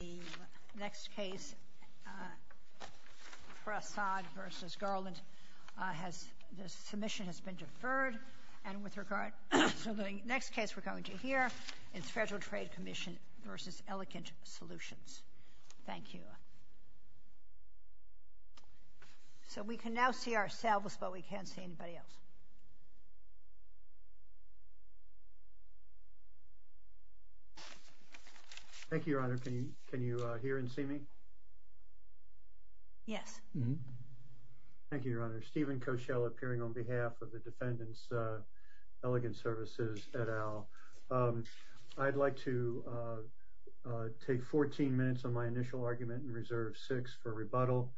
The next case, Prasad v. Garland, the submission has been deferred. And with regard to the next case we're going to hear, it's Federal Trade Commission v. Elegant Solutions. Thank you. So we can now see ourselves, but we can't see anybody else. Thank you, Your Honor. Can you hear and see me? Yes. Thank you, Your Honor. Stephen Koschel appearing on behalf of the defendants, Elegant Services, et al. I'd like to take 14 minutes on my initial argument and reserve 6 for rebuttal.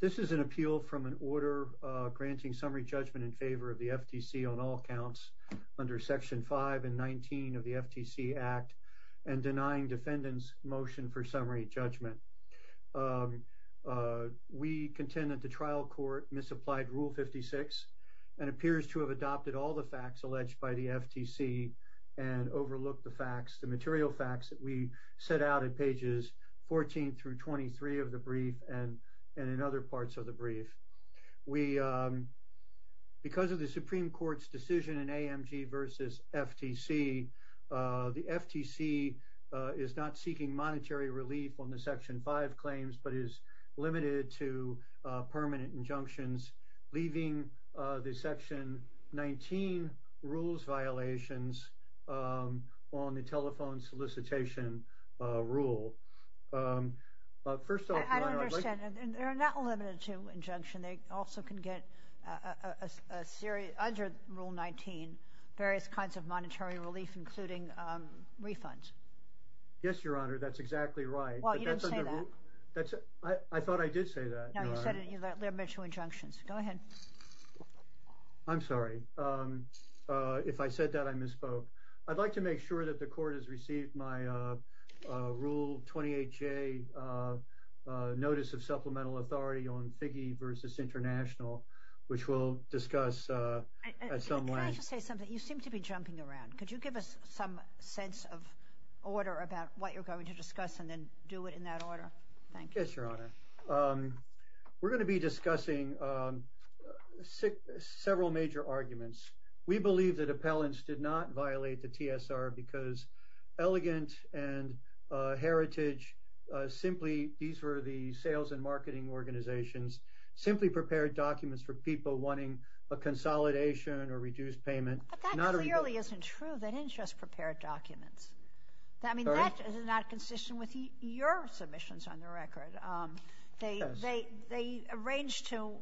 This is an appeal from an order granting summary judgment in favor of the FTC on all counts under Section 5 and 19 of the FTC Act and denying defendants motion for summary judgment. We contend that the trial court misapplied Rule 56 and appears to have adopted all the facts alleged by the FTC and overlooked the facts, that we set out at pages 14 through 23 of the brief and in other parts of the brief. Because of the Supreme Court's decision in AMG v. FTC, the FTC is not seeking monetary relief on the Section 5 claims, but is limited to permanent injunctions, leaving the Section 19 rules violations on the telephone solicitation rule. I don't understand. They're not limited to injunction. They also can get under Rule 19 various kinds of monetary relief, including refunds. Yes, Your Honor, that's exactly right. Well, you didn't say that. I thought I did say that, Your Honor. No, you said they're limited to injunctions. Go ahead. I'm sorry. If I said that, I misspoke. I'd like to make sure that the court has received my Rule 28J Notice of Supplemental Authority on Figge v. International, which we'll discuss at some length. Can I just say something? You seem to be jumping around. Could you give us some sense of order about what you're going to discuss and then do it in that order? Yes, Your Honor. We're going to be discussing several major arguments. We believe that appellants did not violate the TSR because Elegant and Heritage simply, these were the sales and marketing organizations, simply prepared documents for people wanting a consolidation or reduced payment. But that clearly isn't true. They didn't just prepare documents. I mean, that is not consistent with your submissions on the record. They arranged to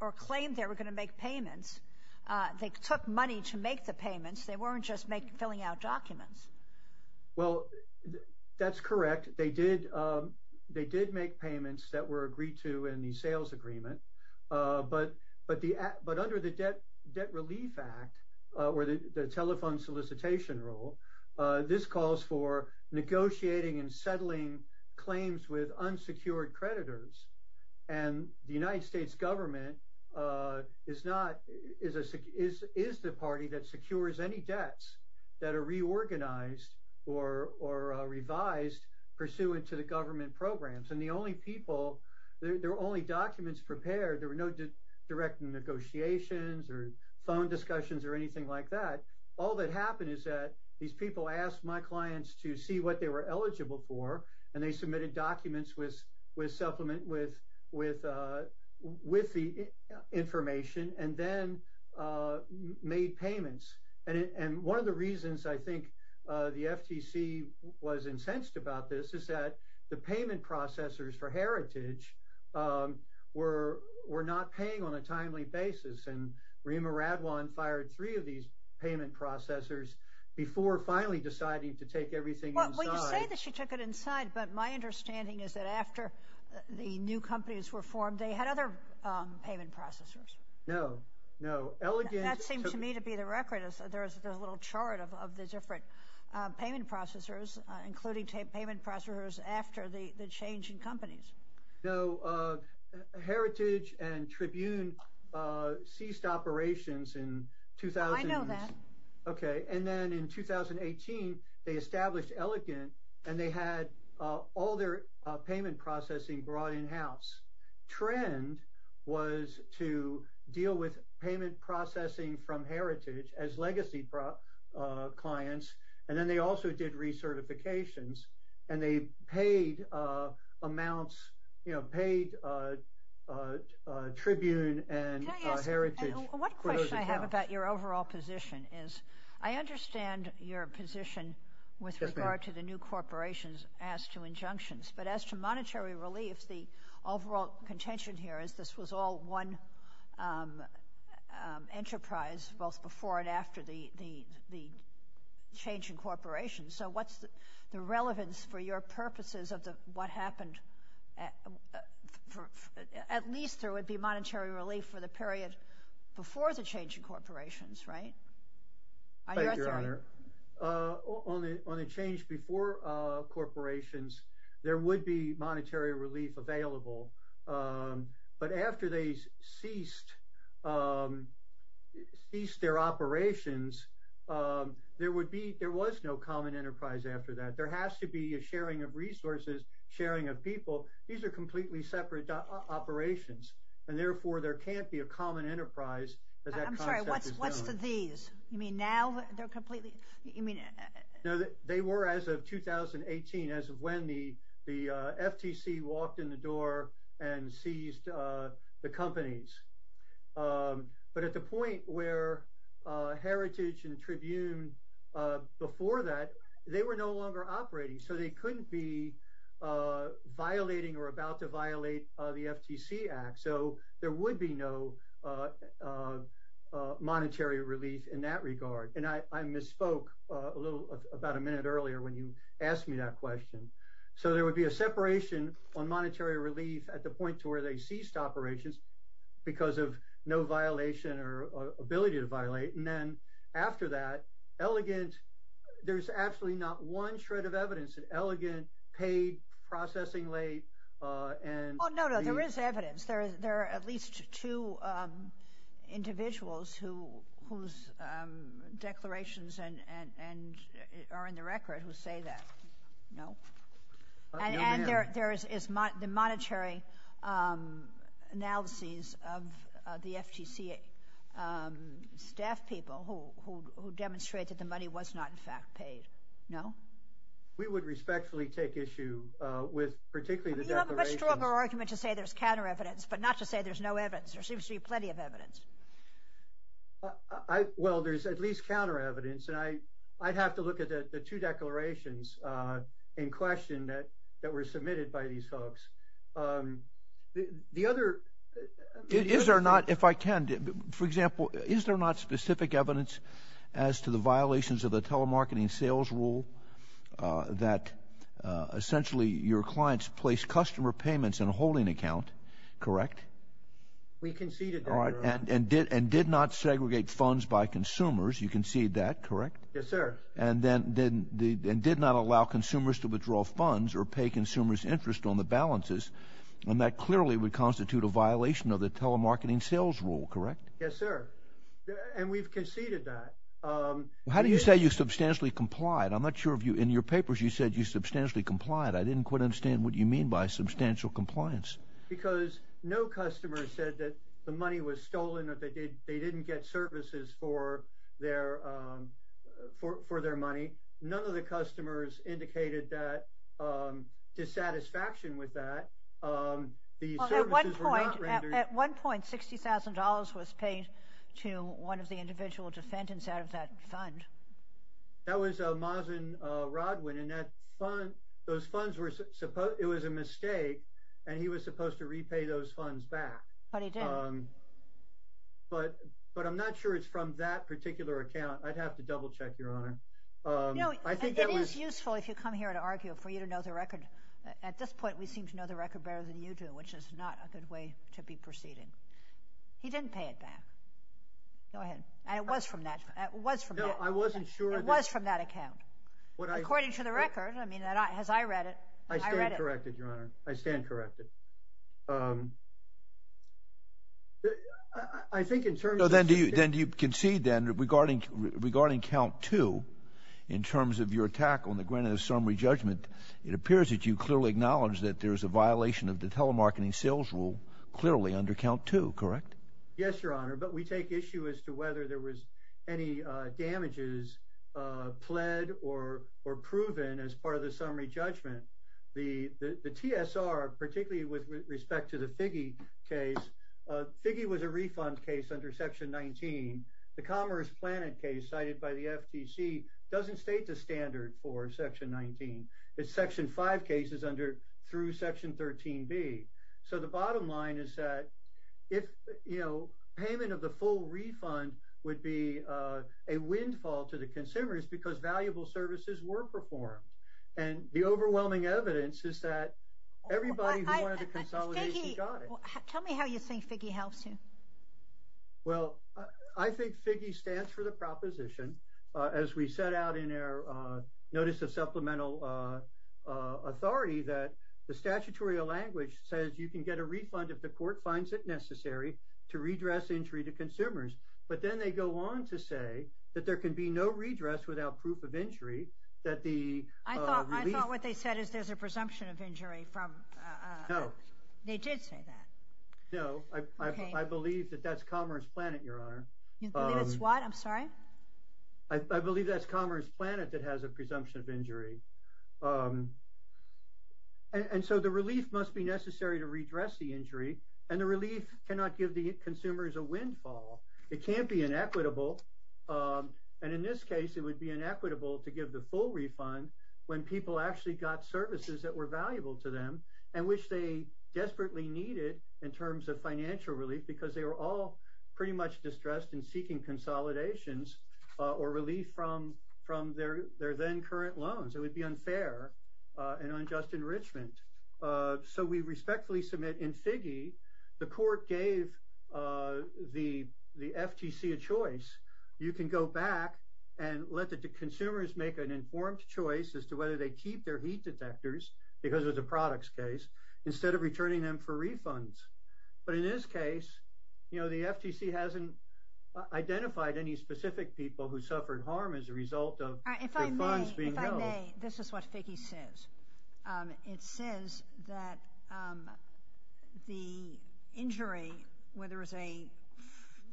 or claimed they were going to make payments. They took money to make the payments. They weren't just filling out documents. Well, that's correct. They did make payments that were agreed to in the sales agreement. But under the Debt Relief Act or the Telephone Solicitation Rule, this calls for negotiating and settling claims with unsecured creditors. And the United States government is the party that secures any debts that are reorganized or revised pursuant to the government programs. And the only people, there were only documents prepared. There were no direct negotiations or phone discussions or anything like that. All that happened is that these people asked my clients to see what they were eligible for, and they submitted documents with supplement, with the information, and then made payments. And one of the reasons I think the FTC was incensed about this is that the payment processors for Heritage were not paying on a timely basis. And Reema Radwan fired three of these payment processors before finally deciding to take everything inside. Well, you say that she took it inside, but my understanding is that after the new companies were formed, they had other payment processors. No, no. That seemed to me to be the record. There's a little chart of the different payment processors, including payment processors after the change in companies. No. Heritage and Tribune ceased operations in 2000. Oh, I know that. Okay. And then in 2018, they established Elegant, and they had all their payment processing brought in-house. Trend was to deal with payment processing from Heritage as legacy clients, and then they also did recertifications, and they paid amounts, you know, paid Tribune and Heritage for those accounts. Can I ask one question I have about your overall position is, I understand your position with regard to the new corporations as to injunctions, but as to monetary relief, the overall contention here is this was all one enterprise, both before and after the change in corporations. So what's the relevance for your purposes of what happened at least there would be monetary relief for the period before the change in corporations, On your authority. Thank you, Your Honor. On the change before corporations, there would be monetary relief available, but after they ceased their operations, there was no common enterprise after that. There has to be a sharing of resources, sharing of people. These are completely separate operations, and therefore there can't be a common enterprise. I'm sorry, what's to these? You mean now they're completely? No, they were as of 2018, as of when the FTC walked in the door and seized the companies. But at the point where Heritage and Tribune before that, they were no longer operating. So they couldn't be violating or about to violate the FTC Act. So there would be no monetary relief in that regard. And I misspoke a little about a minute earlier when you asked me that question. So there would be a separation on monetary relief at the point to where they ceased operations because of no violation or ability to violate. And then after that, there's absolutely not one shred of evidence that Elegant paid processing late. No, no, there is evidence. There are at least two individuals whose declarations are in the record who say that. No? And there is the monetary analyses of the FTC staff people who demonstrate that the money was not in fact paid. No? We would respectfully take issue with particularly the declarations. You have a much stronger argument to say there's counter evidence but not to say there's no evidence. There seems to be plenty of evidence. Well, there's at least counter evidence. And I'd have to look at the two declarations in question that were submitted by these folks. Is there not, if I can, for example, is there not specific evidence as to the violations of the telemarketing sales rule that essentially your clients placed customer payments in a holding account, correct? We conceded that, Your Honor. And did not segregate funds by consumers. You conceded that, correct? Yes, sir. And did not allow consumers to withdraw funds or pay consumers' interest on the balances. And that clearly would constitute a violation of the telemarketing sales rule, correct? Yes, sir. And we've conceded that. How do you say you substantially complied? I'm not sure if in your papers you said you substantially complied. I didn't quite understand what you mean by substantial compliance. Because no customer said that the money was stolen or they didn't get services for their money. None of the customers indicated dissatisfaction with that. Well, at one point, $60,000 was paid to one of the individual defendants out of that fund. That was Mazin Rodwin. It was a mistake, and he was supposed to repay those funds back. But he did. But I'm not sure it's from that particular account. I'd have to double-check, Your Honor. It is useful, if you come here and argue, for you to know the record. At this point, we seem to know the record better than you do, which is not a good way to be proceeding. He didn't pay it back. Go ahead. And it was from that account. According to the record, I mean, as I read it, I read it. I stand corrected, Your Honor. I stand corrected. I think in terms of... Then do you concede, then, regarding Count 2, in terms of your attack on the granted-of-summary judgment, it appears that you clearly acknowledge that there is a violation of the telemarketing sales rule, clearly, under Count 2, correct? Yes, Your Honor, but we take issue as to whether there was any damages pled or proven as part of the summary judgment. The TSR, particularly with respect to the Figge case, Figge was a refund case under Section 19. The Commerce Planet case cited by the FTC doesn't state the standard for Section 19. It's Section 5 cases through Section 13B. So the bottom line is that if, you know, because valuable services were performed. And the overwhelming evidence is that everybody who wanted a consolidation got it. Tell me how you think Figge helps you. Well, I think Figge stands for the proposition, as we set out in our Notice of Supplemental Authority, that the statutory language says you can get a refund if the court finds it necessary to redress injury to consumers. But then they go on to say that there can be no redress without proof of injury. I thought what they said is there's a presumption of injury. No. They did say that. No, I believe that that's Commerce Planet, Your Honor. You believe it's what? I'm sorry? I believe that's Commerce Planet that has a presumption of injury. And so the relief must be necessary to redress the injury, and the relief cannot give the consumers a windfall. It can't be inequitable. And in this case it would be inequitable to give the full refund when people actually got services that were valuable to them and which they desperately needed in terms of financial relief because they were all pretty much distressed and seeking consolidations or relief from their then current loans. It would be unfair and unjust enrichment. So we respectfully submit in Figge, the court gave the FTC a choice. You can go back and let the consumers make an informed choice as to whether they keep their heat detectors, because it was a products case, instead of returning them for refunds. But in this case, you know, the FTC hasn't identified any specific people who suffered harm as a result of their funds being billed. If I may, this is what Figge says. It says that the injury, whether it's a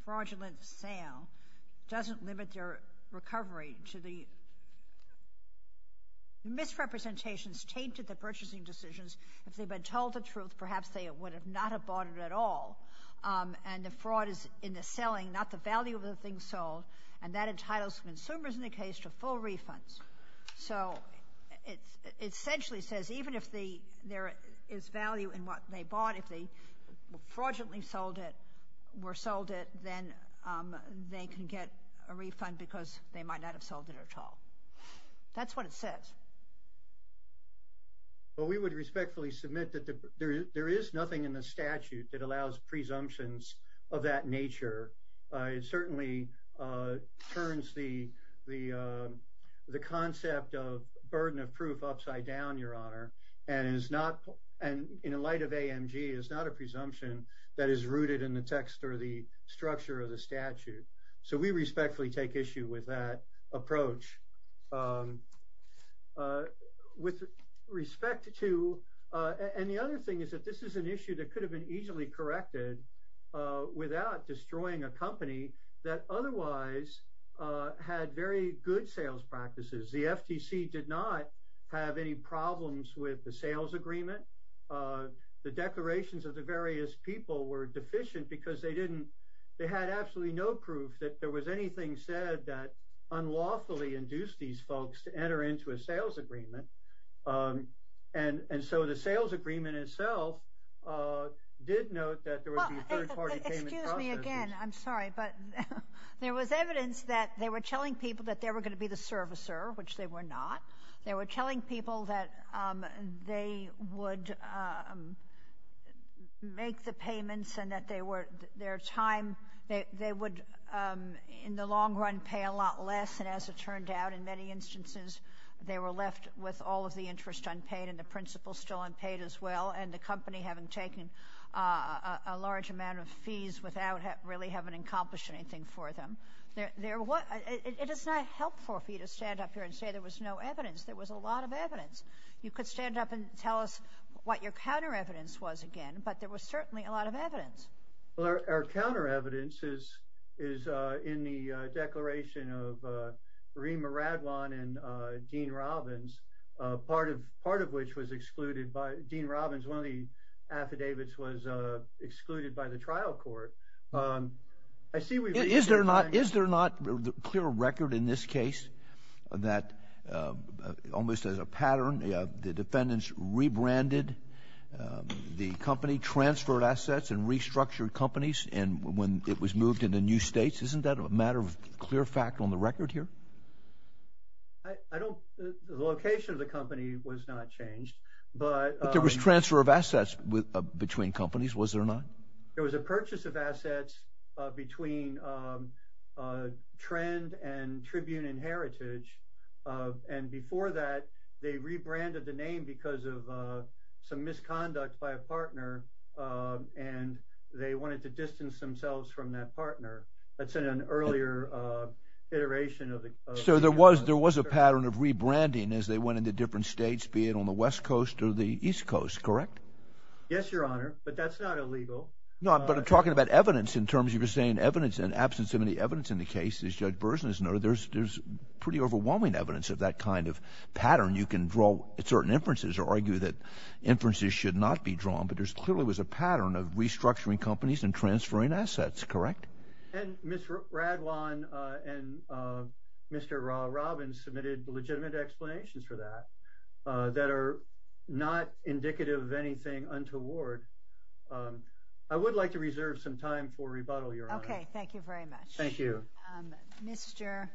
fraudulent sale, doesn't limit their recovery to the misrepresentations taped to the purchasing decisions. If they'd been told the truth, perhaps they would not have bought it at all. And the fraud is in the selling, not the value of the thing sold, and that entitles consumers in the case to full refunds. So it essentially says even if there is value in what they bought, if they fraudulently sold it, were sold it, then they can get a refund because they might not have sold it at all. That's what it says. Well, we would respectfully submit that there is nothing in the statute that allows presumptions of that nature. It certainly turns the concept of burden of proof upside down, Your Honor, and in light of AMG, is not a presumption that is rooted in the text or the structure of the statute. So we respectfully take issue with that approach. And the other thing is that this is an issue that could have been easily corrected without destroying a company that otherwise had very good sales practices. The FTC did not have any problems with the sales agreement. The declarations of the various people were deficient because they didn't, they had absolutely no proof that there was anything said that unlawfully induced these folks to enter into a sales agreement. And so the sales agreement itself did note that there was the third party payment process. Excuse me again, I'm sorry, but there was evidence that they were telling people that they were going to be the servicer, which they were not. They were telling people that they would make the payments and that their time, they would in the long run pay a lot less. And as it turned out in many instances, they were left with all of the interest unpaid and the principal still unpaid as well. And the company having taken a large amount of fees without really having accomplished anything for them. It is not helpful for you to stand up here and say there was no evidence. There was a lot of evidence. You could stand up and tell us what your counter evidence was again, but there was certainly a lot of evidence. Well, our counter evidence is, is in the declaration of Rima Radwan and Dean Robbins, part of part of which was excluded by Dean Robbins. One of the affidavits was excluded by the trial court. I see. Is there not, is there not clear record in this case that almost as a pattern, the defendants rebranded the company, transferred assets and restructured companies. And when it was moved into new States, isn't that a matter of clear fact on the record here? I don't, the location of the company was not changed, but there was transfer of assets between companies. Was there not, there was a purchase of assets between trend and tribune and heritage. And before that they rebranded the name because of some misconduct by a and they wanted to distance themselves from that partner. That's in an earlier iteration of the, so there was, there was a pattern of rebranding as they went into different States, be it on the West coast or the East coast. Correct? Yes, your honor, but that's not illegal. No, but I'm talking about evidence in terms of you're saying evidence and absence of any evidence in the case is judge Burson is no, there's, there's pretty overwhelming evidence of that kind of pattern. You can draw certain inferences or argue that inferences should not be drawn, but there's clearly was a pattern of restructuring companies and transferring assets. Correct. And Mr. Radwan and Mr. Robbins submitted legitimate explanations for that, that are not indicative of anything untoward. I would like to reserve some time for rebuttal. You're okay. Thank you very much. Thank you. Mr.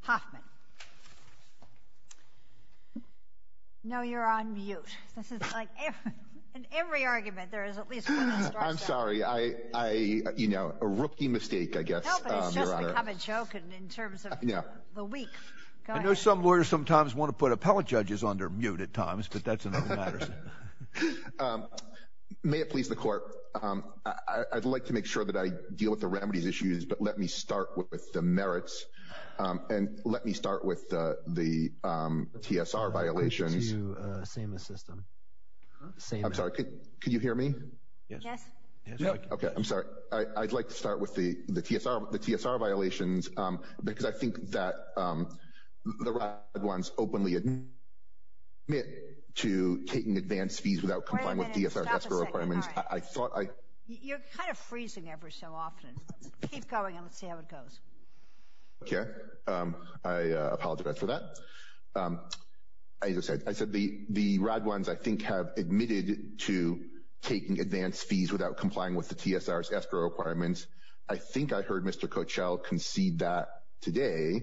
Hoffman. No, you're on mute. This is like every, in every argument, there is at least one. I'm sorry. I, I, you know, a rookie mistake, I guess. It's just become a joke. And in terms of the week, I know some lawyers sometimes want to put appellate judges under mute at times, but that's another matter. May it please the court. I'd like to make sure that I deal with the remedies issues, but let me start with the merits. And let me start with the TSR violations. Same system. I'm sorry. Could you hear me? Yes. Okay. I'm sorry. I'd like to start with the, the TSR, the TSR violations, because I think that the red ones openly admit to taking advanced fees without complying with DSR requirements. I thought I, you're kind of freezing every so often. Keep going. Let's see how it goes. Okay. I apologize for that. I just said, I said the, the rad ones I think have admitted to taking advanced fees without complying with the TSRs escrow requirements. I think I heard Mr. Coachelle concede that today.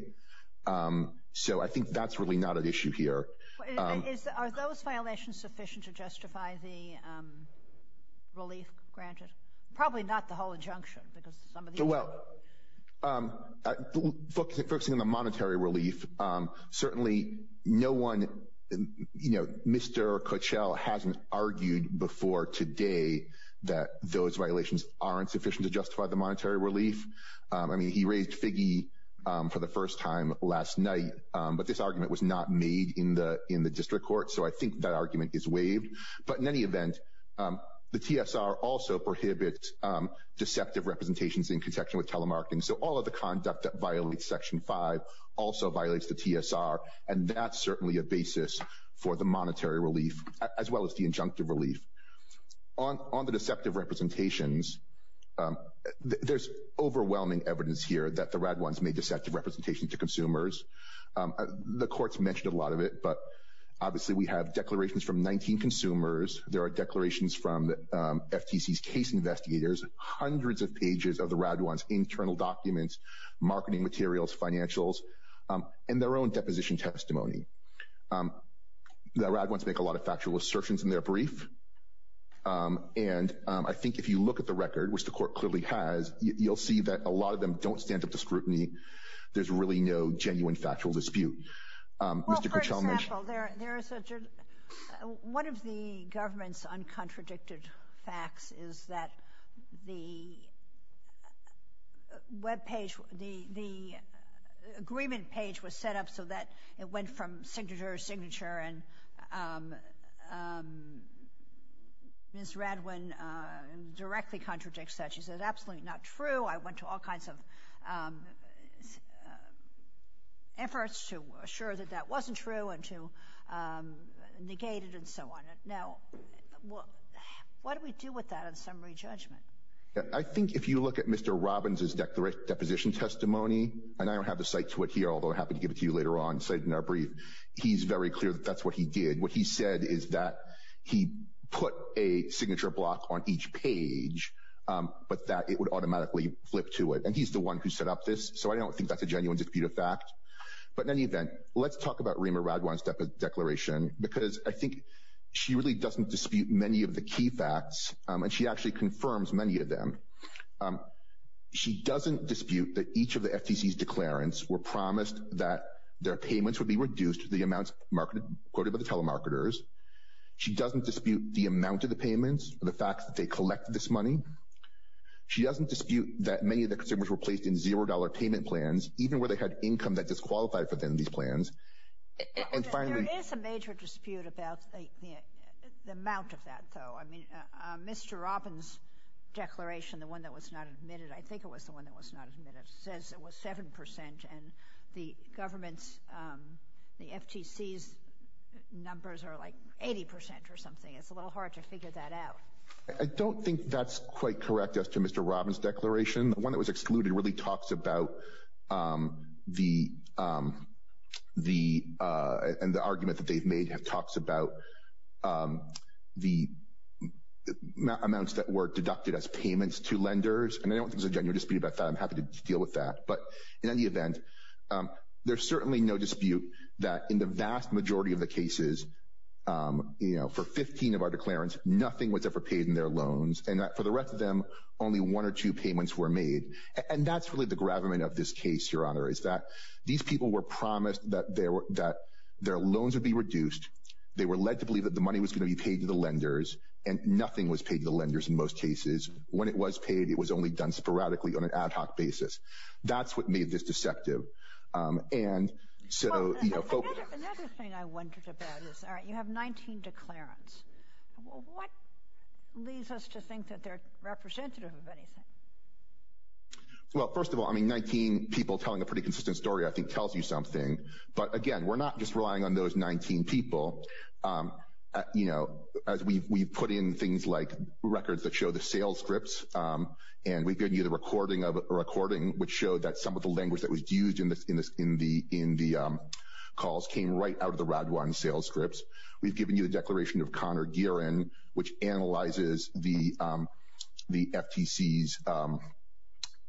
So I think that's really not an issue here. Is that, are those violations sufficient to justify the relief granted? Probably not the whole injunction because some of the well focusing on the monetary relief. Certainly no one, you know, Mr. Coachelle hasn't argued before today that those violations aren't sufficient to justify the monetary relief. I mean, he raised figgy for the first time last night, but this argument was not made in the, in the district court. So I think that argument is waived, but in any event the TSR also prohibits deceptive representations in context with telemarketing. So all of the conduct that violates section five also violates the TSR. And that's certainly a basis for the monetary relief as well as the injunctive relief on, on the deceptive representations. There's overwhelming evidence here that the rad ones may deceptive representation to consumers. The courts mentioned a lot of it, but obviously we have declarations from 19 consumers. There are declarations from FTCs case investigators, hundreds of pages of the rad ones, internal documents, marketing materials, financials, and their own deposition testimony. The rad ones make a lot of factual assertions in their brief. And I think if you look at the record, which the court clearly has, you'll see that a lot of them don't stand up to scrutiny. There's really no genuine factual dispute. Mr. The web page, the, the agreement page was set up so that it went from signature to signature. And, um, um, Ms. Radwin, uh, directly contradicts that. She says, absolutely not true. I went to all kinds of, um, uh, efforts to assure that that wasn't true and to, um, negated and so on. Now, well, what do we do with that in summary judgment? I think if you look at Mr. Robbins, his declaration, deposition testimony, and I don't have the site to it here, although I happen to give it to you later on. So in our brief, he's very clear that that's what he did. What he said is that he put a signature block on each page, um, but that it would automatically flip to it. And he's the one who set up this. So I don't think that's a genuine dispute of fact, but in any event, let's talk about Rima Radwan step of declaration, because I think she really doesn't dispute many of the key facts. Um, and she actually confirms many of them. Um, she doesn't dispute that each of the FTC's declarants were promised that their payments would be reduced to the amounts marketed quoted by the telemarketers. She doesn't dispute the amount of the payments, the fact that they collected this money. She doesn't dispute that many of the consumers were placed in $0 payment plans, even where they had income that disqualified for them, these plans. There is a major dispute about the amount of that though. I mean, uh, Mr. Robbins declaration, the one that was not admitted, I think it was the one that was not admitted. It says it was 7% and the government's, um, the FTC's numbers are like 80% or something. It's a little hard to figure that out. I don't think that's quite correct as to Mr. Robbins declaration. The one that was excluded really talks about, um, the, um, the, uh, and the argument that they've made have talks about, um, the amounts that were deducted as payments to lenders. And I don't think there's a genuine dispute about that. I'm happy to deal with that. But in any event, um, there's certainly no dispute that in the vast majority of the cases, um, you know, for 15 of our declarants, nothing was ever paid in their loans and that for the rest of them, only one or two payments were made. And that's really the gravamen of this case. Your honor is that these people were promised that they were, that their loans would be reduced. They were led to believe that the money was going to be paid to the lenders and nothing was paid to the lenders. In most cases, when it was paid, it was only done sporadically on an ad hoc basis. That's what made this deceptive. Um, and so, you know, another thing I wondered about is, all right, you have 19 declarants. What leads us to think that they're representative of anything? Well, first of all, I mean, 19 people telling a pretty consistent story, I think tells you something, but again, we're not just relying on those 19 people. Um, you know, as we've, we've put in things like records that show the sales scripts, um, and we've given you the recording of a recording, which showed that some of the language that was used in this, in this, in the, in the, um, calls came right out of the Radwan sales scripts. We've given you the declaration of Connor Geeran, which analyzes the, um, the FTCs, um,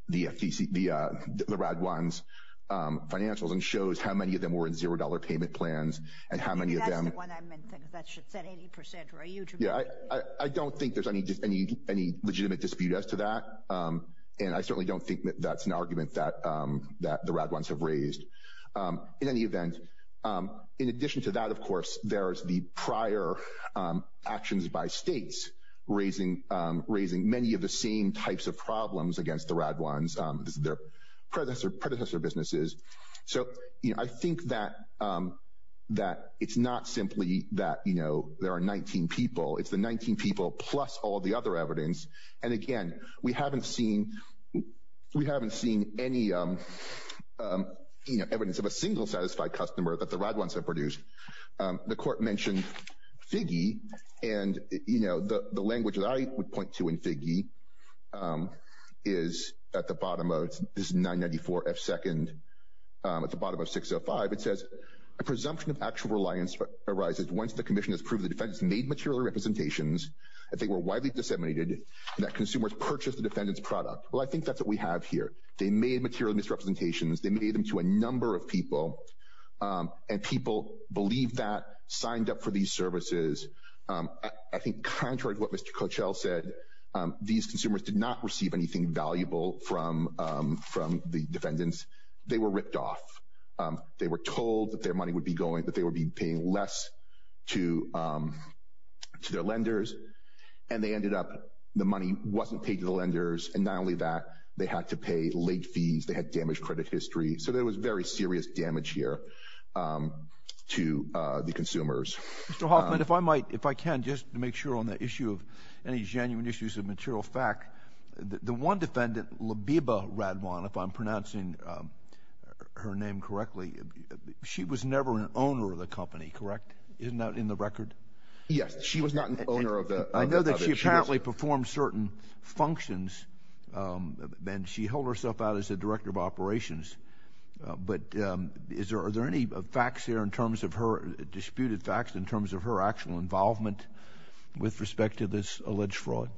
the FTC, the, uh, the Radwans, um, financials, and shows how many of them were in $0 payment plans and how many of them. I think that's the one I meant, because that should set 80% or a huge amount. Yeah, I, I don't think there's any, any, any legitimate dispute as to that. Um, and I certainly don't think that that's an argument that, um, that the Radwans have raised. Um, in any event, um, in addition to that, of course, there's the prior, um, actions by states raising, um, raising many of the same types of problems against the Radwans, um, their predecessor, predecessor businesses. So, you know, I think that, um, that it's not simply that, you know, there are 19 people. It's the 19 people plus all the other evidence. And again, we haven't seen, we haven't seen any, um, um, you know, evidence of a single satisfied customer that the Radwans have produced. Um, the court mentioned FIGI and, you know, the, the language that I would point to in FIGI, um, is at the bottom of, this is 994F2nd, um, at the bottom of 605. It says, a presumption of actual reliance arises once the commission has proved the defendants made material representations, that they were widely disseminated, and that consumers purchased the defendants' product. Well, I think that's what we have here. They made material misrepresentations. They made them to a number of people, um, and people believed that, signed up for these services. Um, I think contrary to what Mr. Coachell said, um, these consumers did not receive anything valuable from, um, from the defendants. They were ripped off. Um, they were told that their money would be going, that they would be paying less to, to their lenders, and they ended up, the money wasn't paid to the lenders, and not only that, they had to pay late fees, they had damaged credit history. So there was very serious damage here, um, to, uh, the consumers. Mr. Hoffman, if I might, if I can, just to make sure on the issue of, any genuine issues of material fact, the, the one defendant, Labiba Radwan, if I'm pronouncing, um, her name correctly, she was never an owner of the company, correct? Isn't that in the record? Yes. She was not an owner of the, I know that she apparently performed certain functions, um, and she held herself out as the director of operations, uh, but, um, is there, are there any facts here in terms of her, disputed facts in terms of her actual involvement, with respect to this alleged fraud?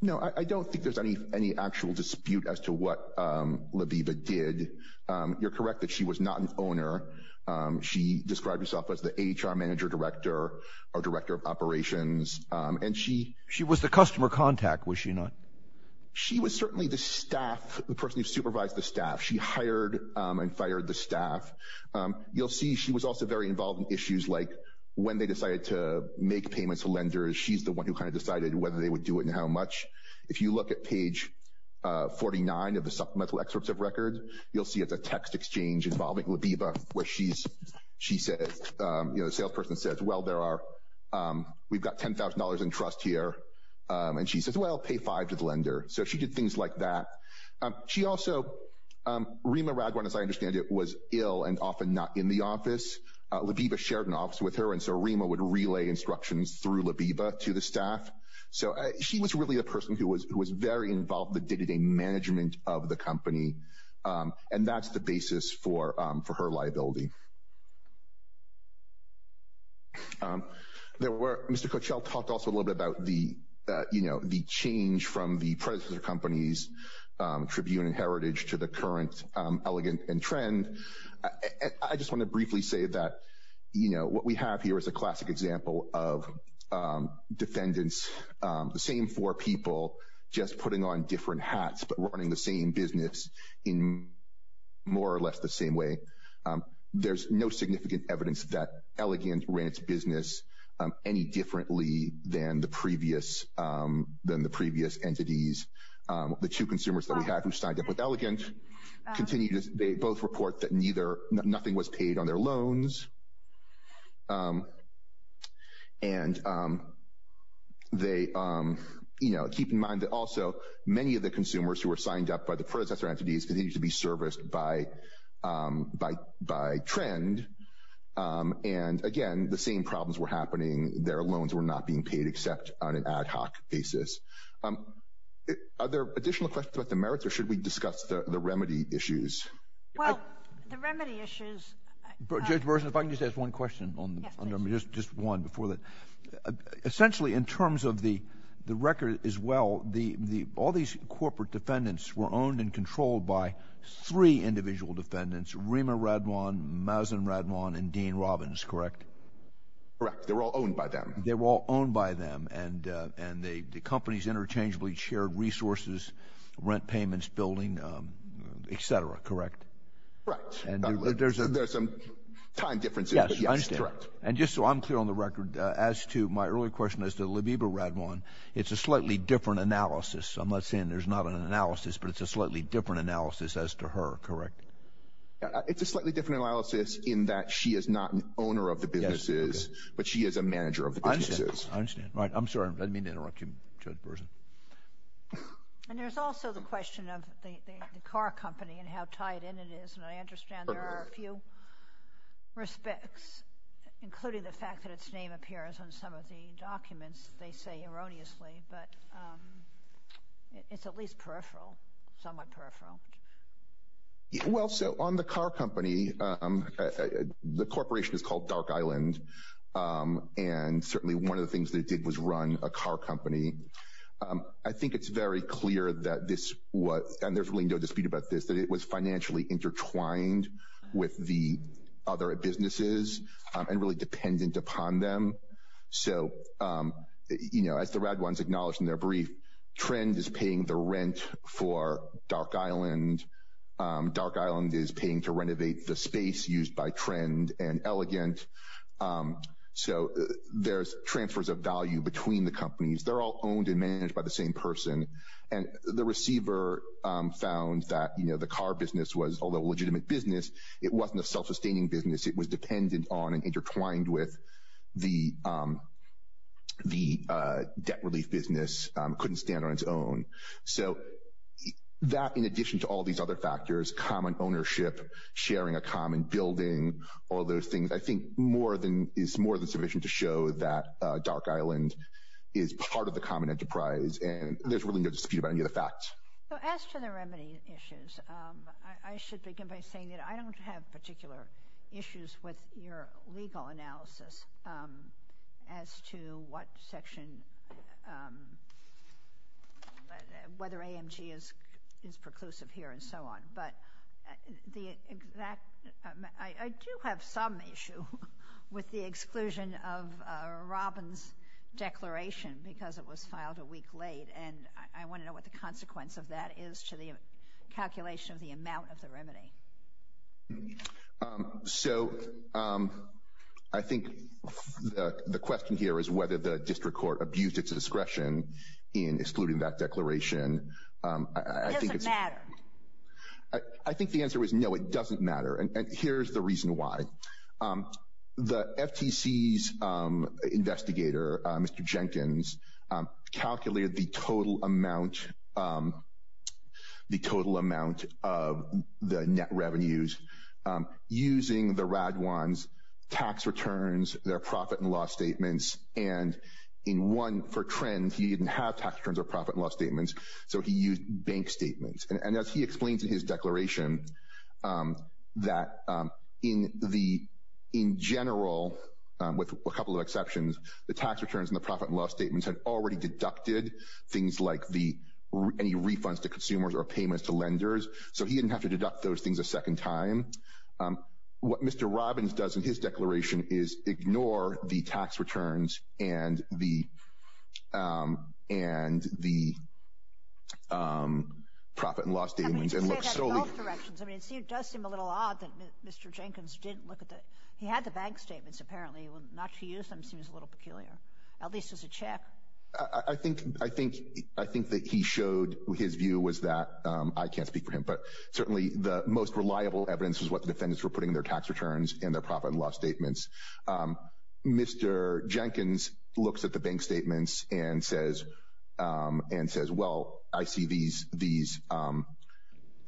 No, I, I don't think there's any, any actual dispute as to what, um, Labiba did, um, you're correct that she was not an owner, um, she described herself as the HR manager director, or director of operations, um, and she, She was the customer contact, was she not? She was certainly the staff, the person who supervised the staff, she hired, um, and fired the staff, um, you'll see she was also very involved in issues like, when they decided to make payments to lenders, she's the one who kind of decided whether they would do it, and how much, if you look at page, uh, 49 of the supplemental excerpts of record, you'll see it's a text exchange involving Labiba, where she's, she says, um, you know, the salesperson says, well there are, um, we've got $10,000 in trust here, um, and she says, well pay five to the lender, so she did things like that, um, she also, um, Rima Ragwan, as I understand it, was ill, and often not in the office, uh, Labiba shared an office with her, and so Rima would relay instructions through Labiba to the staff, so, uh, she was really the person who was, who was very involved in the day-to-day management of the company, um, and that's the basis for, um, for her liability. Um, there were, Mr. Coachell talked also a little bit about the, uh, you know, the change from the predecessor company's, um, Tribune and Heritage to the current, um, Elegant and Trend. I, I just want to briefly say that, you know, what we have here is a classic example of, um, defendants, um, the same four people, just putting on different hats, but running the same business in more or less the same way. Um, there's no significant evidence that Elegant ran its business, um, any differently than the previous, um, than the previous entities. Um, the two consumers that we have who signed up with Elegant continue to, they both report that neither, nothing was paid on their loans. Um, and, um, they, um, you know, keep in mind that also many of the consumers who were signed up by the predecessor entities continue to be serviced by, um, by, by Trend. Um, and again, when the same problems were happening, their loans were not being paid except on an ad hoc basis. Um, are there additional questions about the merits or should we discuss the remedy issues? Well, the remedy issues. Judge Burson, if I can just ask one question on, just one before that, essentially in terms of the, the record as well, the, the, all these corporate defendants were owned and controlled by three individual defendants, Rima Radwan, Mazin Radwan, and Dean Robbins. Correct. Correct. They were all owned by them. They were all owned by them. And, uh, and they, the companies interchangeably shared resources, rent payments, building, um, et cetera. Correct. Right. And there's a, there's some time differences. Yes. And just so I'm clear on the record, uh, as to my earlier question as to Labiba Radwan, it's a slightly different analysis. I'm not saying there's not an analysis, but it's a slightly different analysis as to her. Correct. It's a slightly different analysis in that she is not an owner of the businesses, but she is a manager of the businesses. I understand. I understand. Right. I'm sorry. I didn't mean to interrupt you, Judge Burson. And there's also the question of the, the car company and how tied in it is. And I understand there are a few respects, including the fact that its name appears on some of the documents, they say erroneously, but, um, it's at least peripheral, somewhat peripheral. Well, so on the car company, um, the corporation is called Dark Island. Um, and certainly one of the things that it did was run a car company. Um, I think it's very clear that this was, and there's really no dispute about this, that it was financially intertwined with the other businesses, um, and really dependent upon them. So, um, you know, as the Radwans acknowledged in their brief trend is paying the rent for Dark Island. Um, Dark Island is paying to renovate the space used by Trend and Elegant. Um, so there's transfers of value between the companies. They're all owned and managed by the same person. And the receiver, um, found that, you know, the car business was, although legitimate business, it wasn't a self-sustaining business. It was dependent on and intertwined with the, um, the, uh, debt relief business, um, couldn't stand on its own. So, that, in addition to all these other factors, common ownership, sharing a common building, all those things, I think more than, is more than sufficient to show that, uh, Dark Island is part of the common enterprise. And there's really no dispute about any of the facts. So, as to the remedy issues, um, I should begin by saying that I don't have particular issues with your legal analysis, um, as to what section, um, whether AMG is, is preclusive here and so on. But, the exact, I, I do have some issue with the exclusion of, uh, Robin's declaration because it was filed a week late. And I, I want to know what the consequence of that is to the calculation of the amount of the remedy. Um, so, um, I think, uh, the question here is whether the district court abused its discretion in excluding that declaration. Um, I think it's, I think the answer is no, it doesn't matter. And here's the reason why, um, the FTC's, um, investigator, uh, Mr. Jenkins, um, calculated the total amount, um, the total amount of the net revenues, um, using the RAD ones, tax returns, their profit and loss statements. And in one for trend, he didn't have tax returns or profit and loss statements. So he used bank statements. And as he explains in his declaration, um, that, um, in the, in general, um, with a couple of exceptions, the tax returns and the profit and loss statements had already deducted things like the, any refunds to consumers or payments to lenders. So he didn't have to deduct those things a second time. Um, what Mr. Robbins does in his declaration is ignore the tax returns and the, um, and the, um, profit and loss statements and look solely. I mean, it does seem a little odd that Mr. Jenkins didn't look at that. He had the bank statements. Apparently not to use them seems a little peculiar. At least it's a check. I think, I think, I think that he showed his view was that, um, I can't speak for him, but certainly the most reliable evidence is what the defendants were putting in their tax returns and their profit and loss statements. Um, Mr. Jenkins looks at the bank statements and says, um, and says, well, I see these, these, um,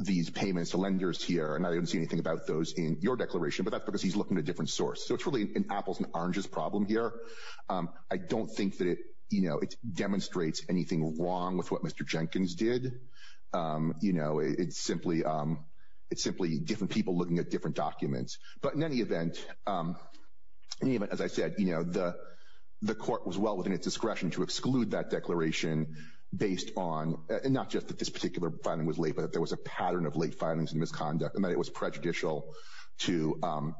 these payments to lenders here and I didn't see anything about those in your declaration, but that's because he's looking at a different source. So it's really an apples and oranges problem here. Um, I don't think that it, you know, it demonstrates anything wrong with what Mr. Jenkins did. Um, you know, it's simply, um, it's simply different people looking at different documents, but in any event, um, even as I said, you know, the, the court was well within its discretion to exclude that declaration based on, and not just that this particular filing was late, but that there was a pattern of late filings and misconduct and that it was prejudicial to, um,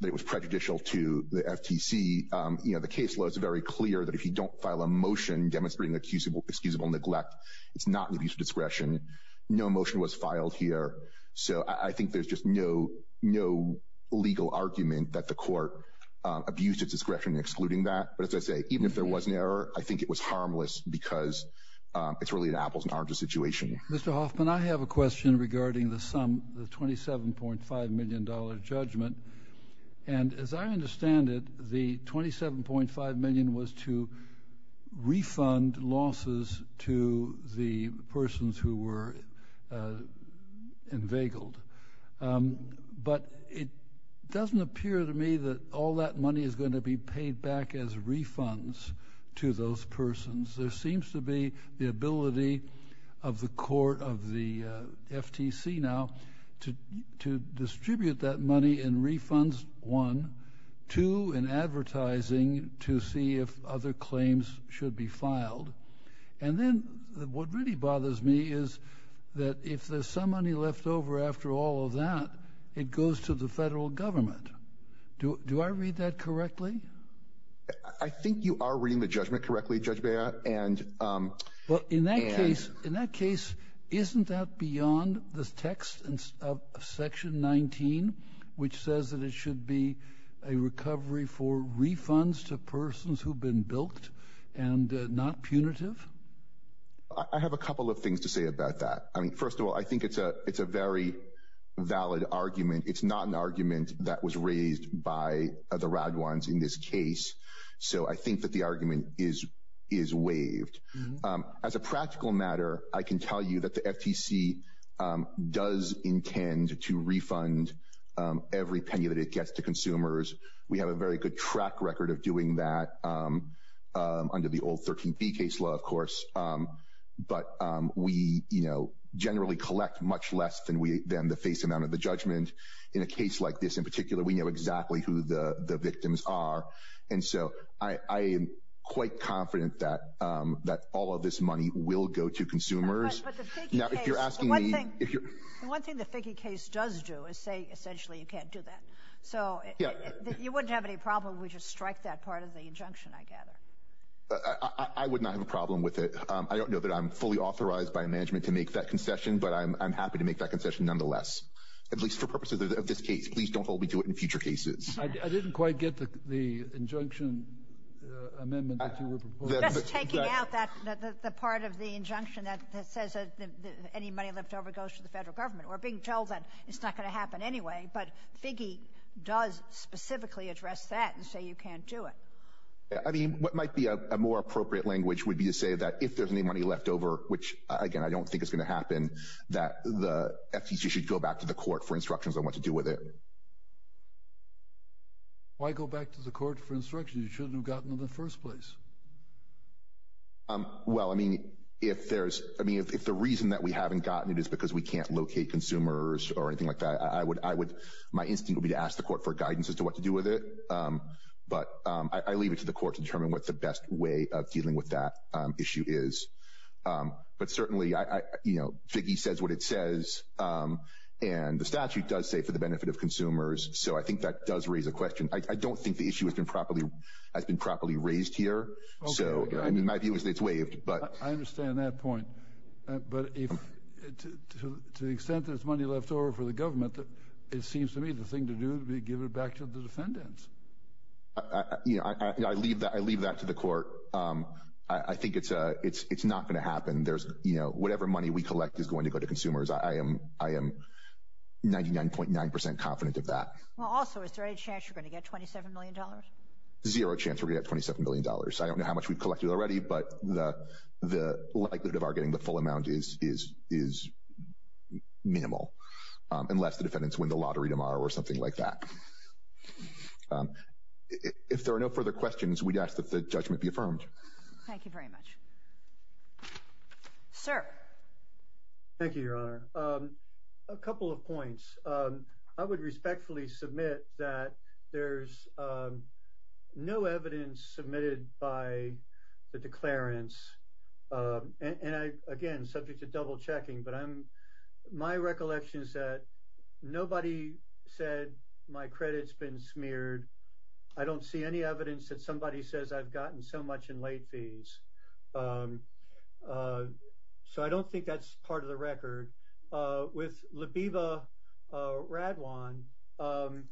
that it was prejudicial to the FTC. Um, you know, the case was very clear that if you don't file a motion demonstrating accusable, excusable neglect, it's not an abuse of discretion. No motion was filed here. So I think there's just no, no legal argument that the court, um, abused its discretion in excluding that. But as I say, even if there was an error, I think it was harmless because, um, it's really an apples and oranges situation. Mr. Hoffman, I have a question regarding the sum, the $27.5 million judgment. And as I understand it, the $27.5 million was to refund losses to the persons who were, uh, inveigled. Um, but it doesn't appear to me that all that money is going to be paid back as refunds to those persons. There seems to be the ability of the court of the, uh, FTC now to, to distribute that money in refunds, one, two, and advertising to see if other claims should be filed. And then what really bothers me is that if there's some money left over after all of that, it goes to the federal government. Do, do I read that correctly? I think you are reading the judgment correctly, judge bear. And, um, well, in that case, in that case, which says that it should be a recovery for refunds to persons who've been built and, uh, not punitive. I have a couple of things to say about that. I mean, first of all, I think it's a, it's a very valid argument. It's not an argument that was raised by the rad ones in this case. So I think that the argument is, is waived, um, as a practical matter, I can tell you that the FTC, um, does intend to refund, um, every penny that it gets to consumers. We have a very good track record of doing that, um, um, under the old 13 B case law, of course. Um, but, um, we, you know, generally collect much less than we, than the face amount of the judgment in a case like this. In particular, we know exactly who the victims are. And so I, I am quite confident that, um, that all of this money will go to consumers. Now, if you're asking me, if you're one thing, the figgy case does do is say, essentially you can't do that. So, you wouldn't have any problem, we just strike that part of the injunction, I gather. I, I would not have a problem with it. Um, I don't know that I'm fully authorized by management to make that concession, but I'm, I'm happy to make that concession nonetheless. At least for purposes of this case, please don't hold me to it in future cases. I didn't quite get the, the injunction, uh, amendment that you were proposing. That's taking out that, the, the part of the injunction that, that says that any money left over goes to the federal government. We're being told that it's not going to happen anyway, but figgy, does specifically address that and say you can't do it. Yeah, I mean, what might be a, a more appropriate language would be to say that if there's any money left over, which, again, I don't think it's going to happen, that the FTC should go back to the court for instructions on what to do with it. Why go back to the court for instructions you shouldn't have gotten in the first place? Um, well, I mean, if there's, I mean, if, if the reason that we haven't gotten it is because we can't locate consumers or anything like that, I would, my instinct would be to ask the court for guidance as to what to do with it. Um, but, um, I, I leave it to the court to determine what the best way of dealing with that, um, issue is. Um, but certainly I, I, you know, figgy says what it says. Um, and the statute does say for the benefit of consumers. So I think that does raise a question. I don't think the issue has been properly, has been properly raised here. So, I mean, my view is that it's waived, but I understand that point. Uh, but if, to, to, to the extent that it's money left over for the government, that it seems to me the thing to do, we give it back to the defendants. Uh, you know, I, I leave that, I leave that to the court. Um, I, I think it's a, it's, it's not going to happen. There's, you know, whatever money we collect is going to go to consumers. I am, I am 99.9% confident of that. Well, also, is there any chance you're going to get $27 million? Zero chance. We got $27 million. I don't know how much we've collected already, but the, the likelihood of our getting the full amount is, is, is minimal. Um, unless the defendants win the lottery tomorrow or something like that. Um, if there are no further questions, we'd ask that the judgment be affirmed. Thank you very much, sir. Thank you, Your Honor. Um, a couple of points. Um, I would respectfully submit that there's, Um, and, and I, again, subject to different circumstances, I, I, I, I, I, I, I, I, I, I, I, I, I, I'm just, I'm just double checking, but I'm, my recollection is that nobody said my credits been smeared. I don't see any evidence that somebody says I've gotten so much in late fees. Um, uh, so I don't think that's part of the record, uh, with Labiba, uh, Radwan. Um,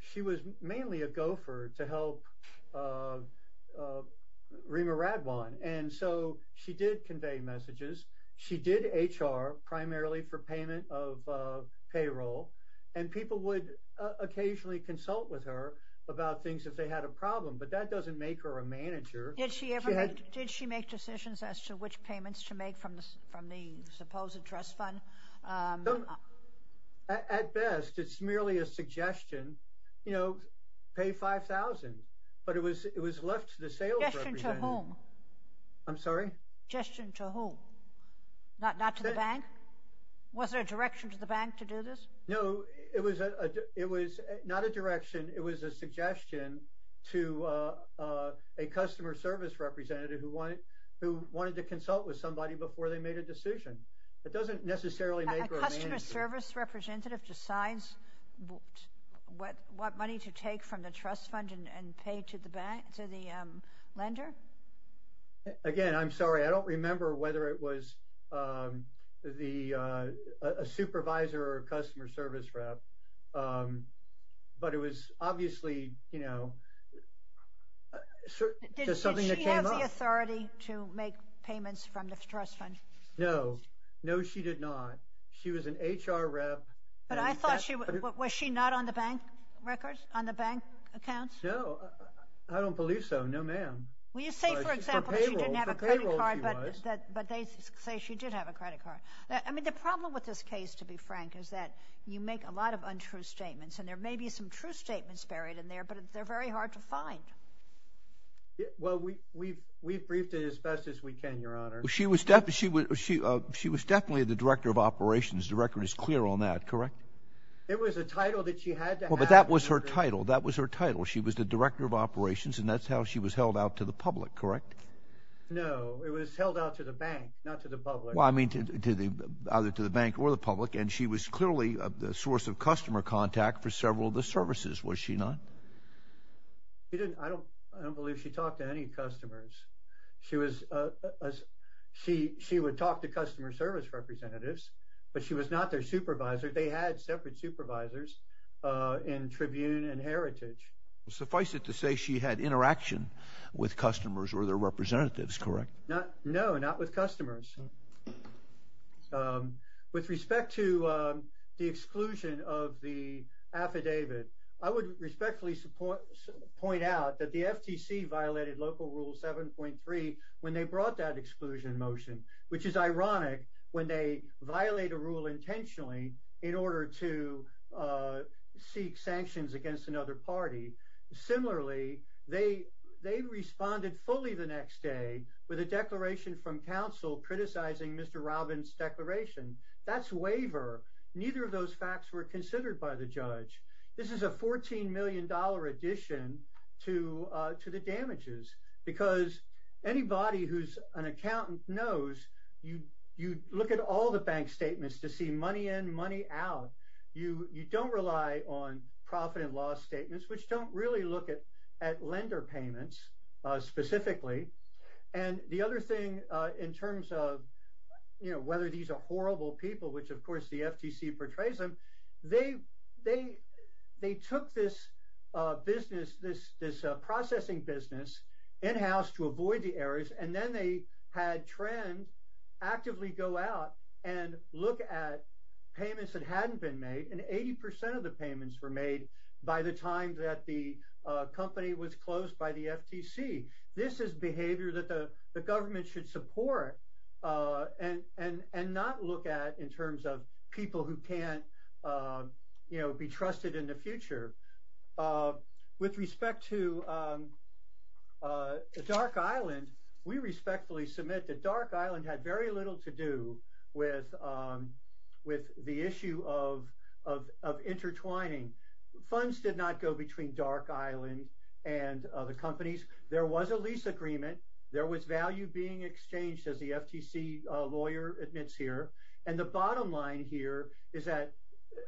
she was mainly a gopher to help, uh, uh, Rima Radwan. And so she did convey messages. She did HR primarily for payment of, uh, payroll and people would occasionally consult with her about things if they had a problem, but that doesn't make her a manager. Did she ever make, did she make decisions as to which payments to make from the, from the supposed address fund? At best, it's merely a suggestion, you know, pay 5,000, but it was, it was left to the sales representative. Suggestion to whom? I'm sorry? Suggestion to whom? Not, not to the bank? Was there a direction to the bank to do this? No, it was a, it was not a direction. It was a suggestion to, uh, uh, a customer service representative who wanted, who wanted to consult with somebody before they made a decision. That doesn't necessarily make her a manager. A customer service representative decides what, what money to take from the trust fund and, and pay to the bank, to the, um, lender? Again, I'm sorry, I don't remember whether it was, um, the, uh, a supervisor or a customer service rep, um, but it was obviously, you know, uh, did she have the authority to make payments from the trust fund? No, no, she did not. She was an HR rep. But I thought she, was she not on the bank records, on the bank accounts? No, I don't believe so. No, ma'am. Well, you say, for example, she didn't have a credit card, but they say she did have a credit card. I mean, the problem with this case, to be frank, is that you make a lot of untrue statements, and there may be some true statements buried in there, but they're very hard to find. Well, we, we've, we've briefed it as best as we can, Your Honor. She was definitely, she was, she, uh, she was definitely the director of operations. The record is clear on that, correct? It was a title that she had to have. Well, but that was her title. That was her title. She was the director of operations, and that's how she was held out to the public, correct? No, it was held out to the bank, not to the public. Well, I mean, to the, either to the bank or the public, and she was clearly the source of customer contact for several of the services, was she not? She didn't, I don't, I don't believe she talked to any customers. She was, uh, as she, she would talk to customer service representatives, but she was not their supervisor. They had separate supervisors, uh, in Tribune and Heritage. Well, suffice it to say she had interaction with customers or their representatives, correct? Not, no, not with customers. Um, with respect to, um, the exclusion of the affidavit, I would respectfully support, I would point out that the FTC violated local rule 7.3 when they brought that exclusion motion, which is ironic when they violate a rule intentionally in order to, uh, seek sanctions against another party. Similarly, they, they responded fully the next day with a declaration from council criticizing Mr. Robin's declaration. That's waiver. Neither of those facts were considered by the judge. This is a $14 million addition to, uh, to the damages because anybody who's an accountant knows you, you look at all the bank statements to see money in money out. You, you don't rely on profit and loss statements, which don't really look at, at lender payments, uh, specifically. And the other thing, uh, in terms of, you know, whether these are horrible people, which of course the FTC portrays them, they, they, they took this, uh, business, this, this, uh, processing business in-house to avoid the errors. And then they had trend actively go out and look at payments that hadn't been made. And 80% of the payments were made by the time that the, uh, company was closed by the FTC. This is behavior that the government should support. Uh, and, and, and not look at in terms of people who can't, uh, you know, be trusted in the future, uh, with respect to, um, uh, Dark Island, we respectfully submit that Dark Island had very little to do with, um, with the issue of, of, of intertwining funds did not go between Dark Island and, uh, the companies. There was a lease agreement. There was value being exchanged as the FTC, uh, lawyer admits here. And the bottom line here is that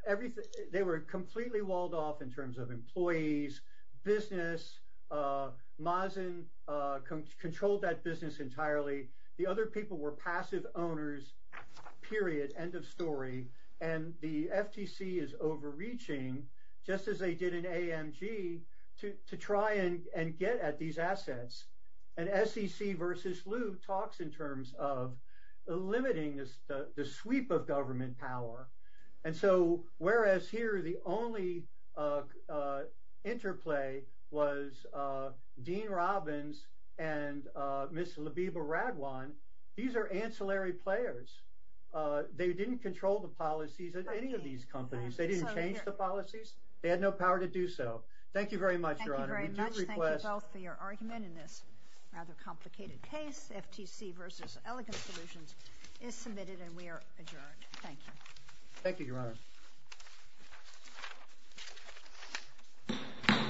everything, they were completely walled off in terms of employees, business, uh, Mazen, uh, controlled that business entirely. The other people were passive owners, period, end of story. And the FTC is overreaching just as they did an AMG to, to try and, and get at these assets. And SEC versus Lou talks in terms of limiting this, the, the sweep of government power. And so, whereas here, the only, uh, uh, interplay was, uh, Dean Robbins and, uh, Miss Labiba Radwan. These are ancillary players. Uh, they didn't control the policies at any of these companies. They didn't change the policies. They had no power to do so. Thank you very much. Your honor. Thank you both for your argument in this rather complicated case. FTC versus Elegant Solutions is submitted and we are adjourned. Thank you. Thank you, your honor.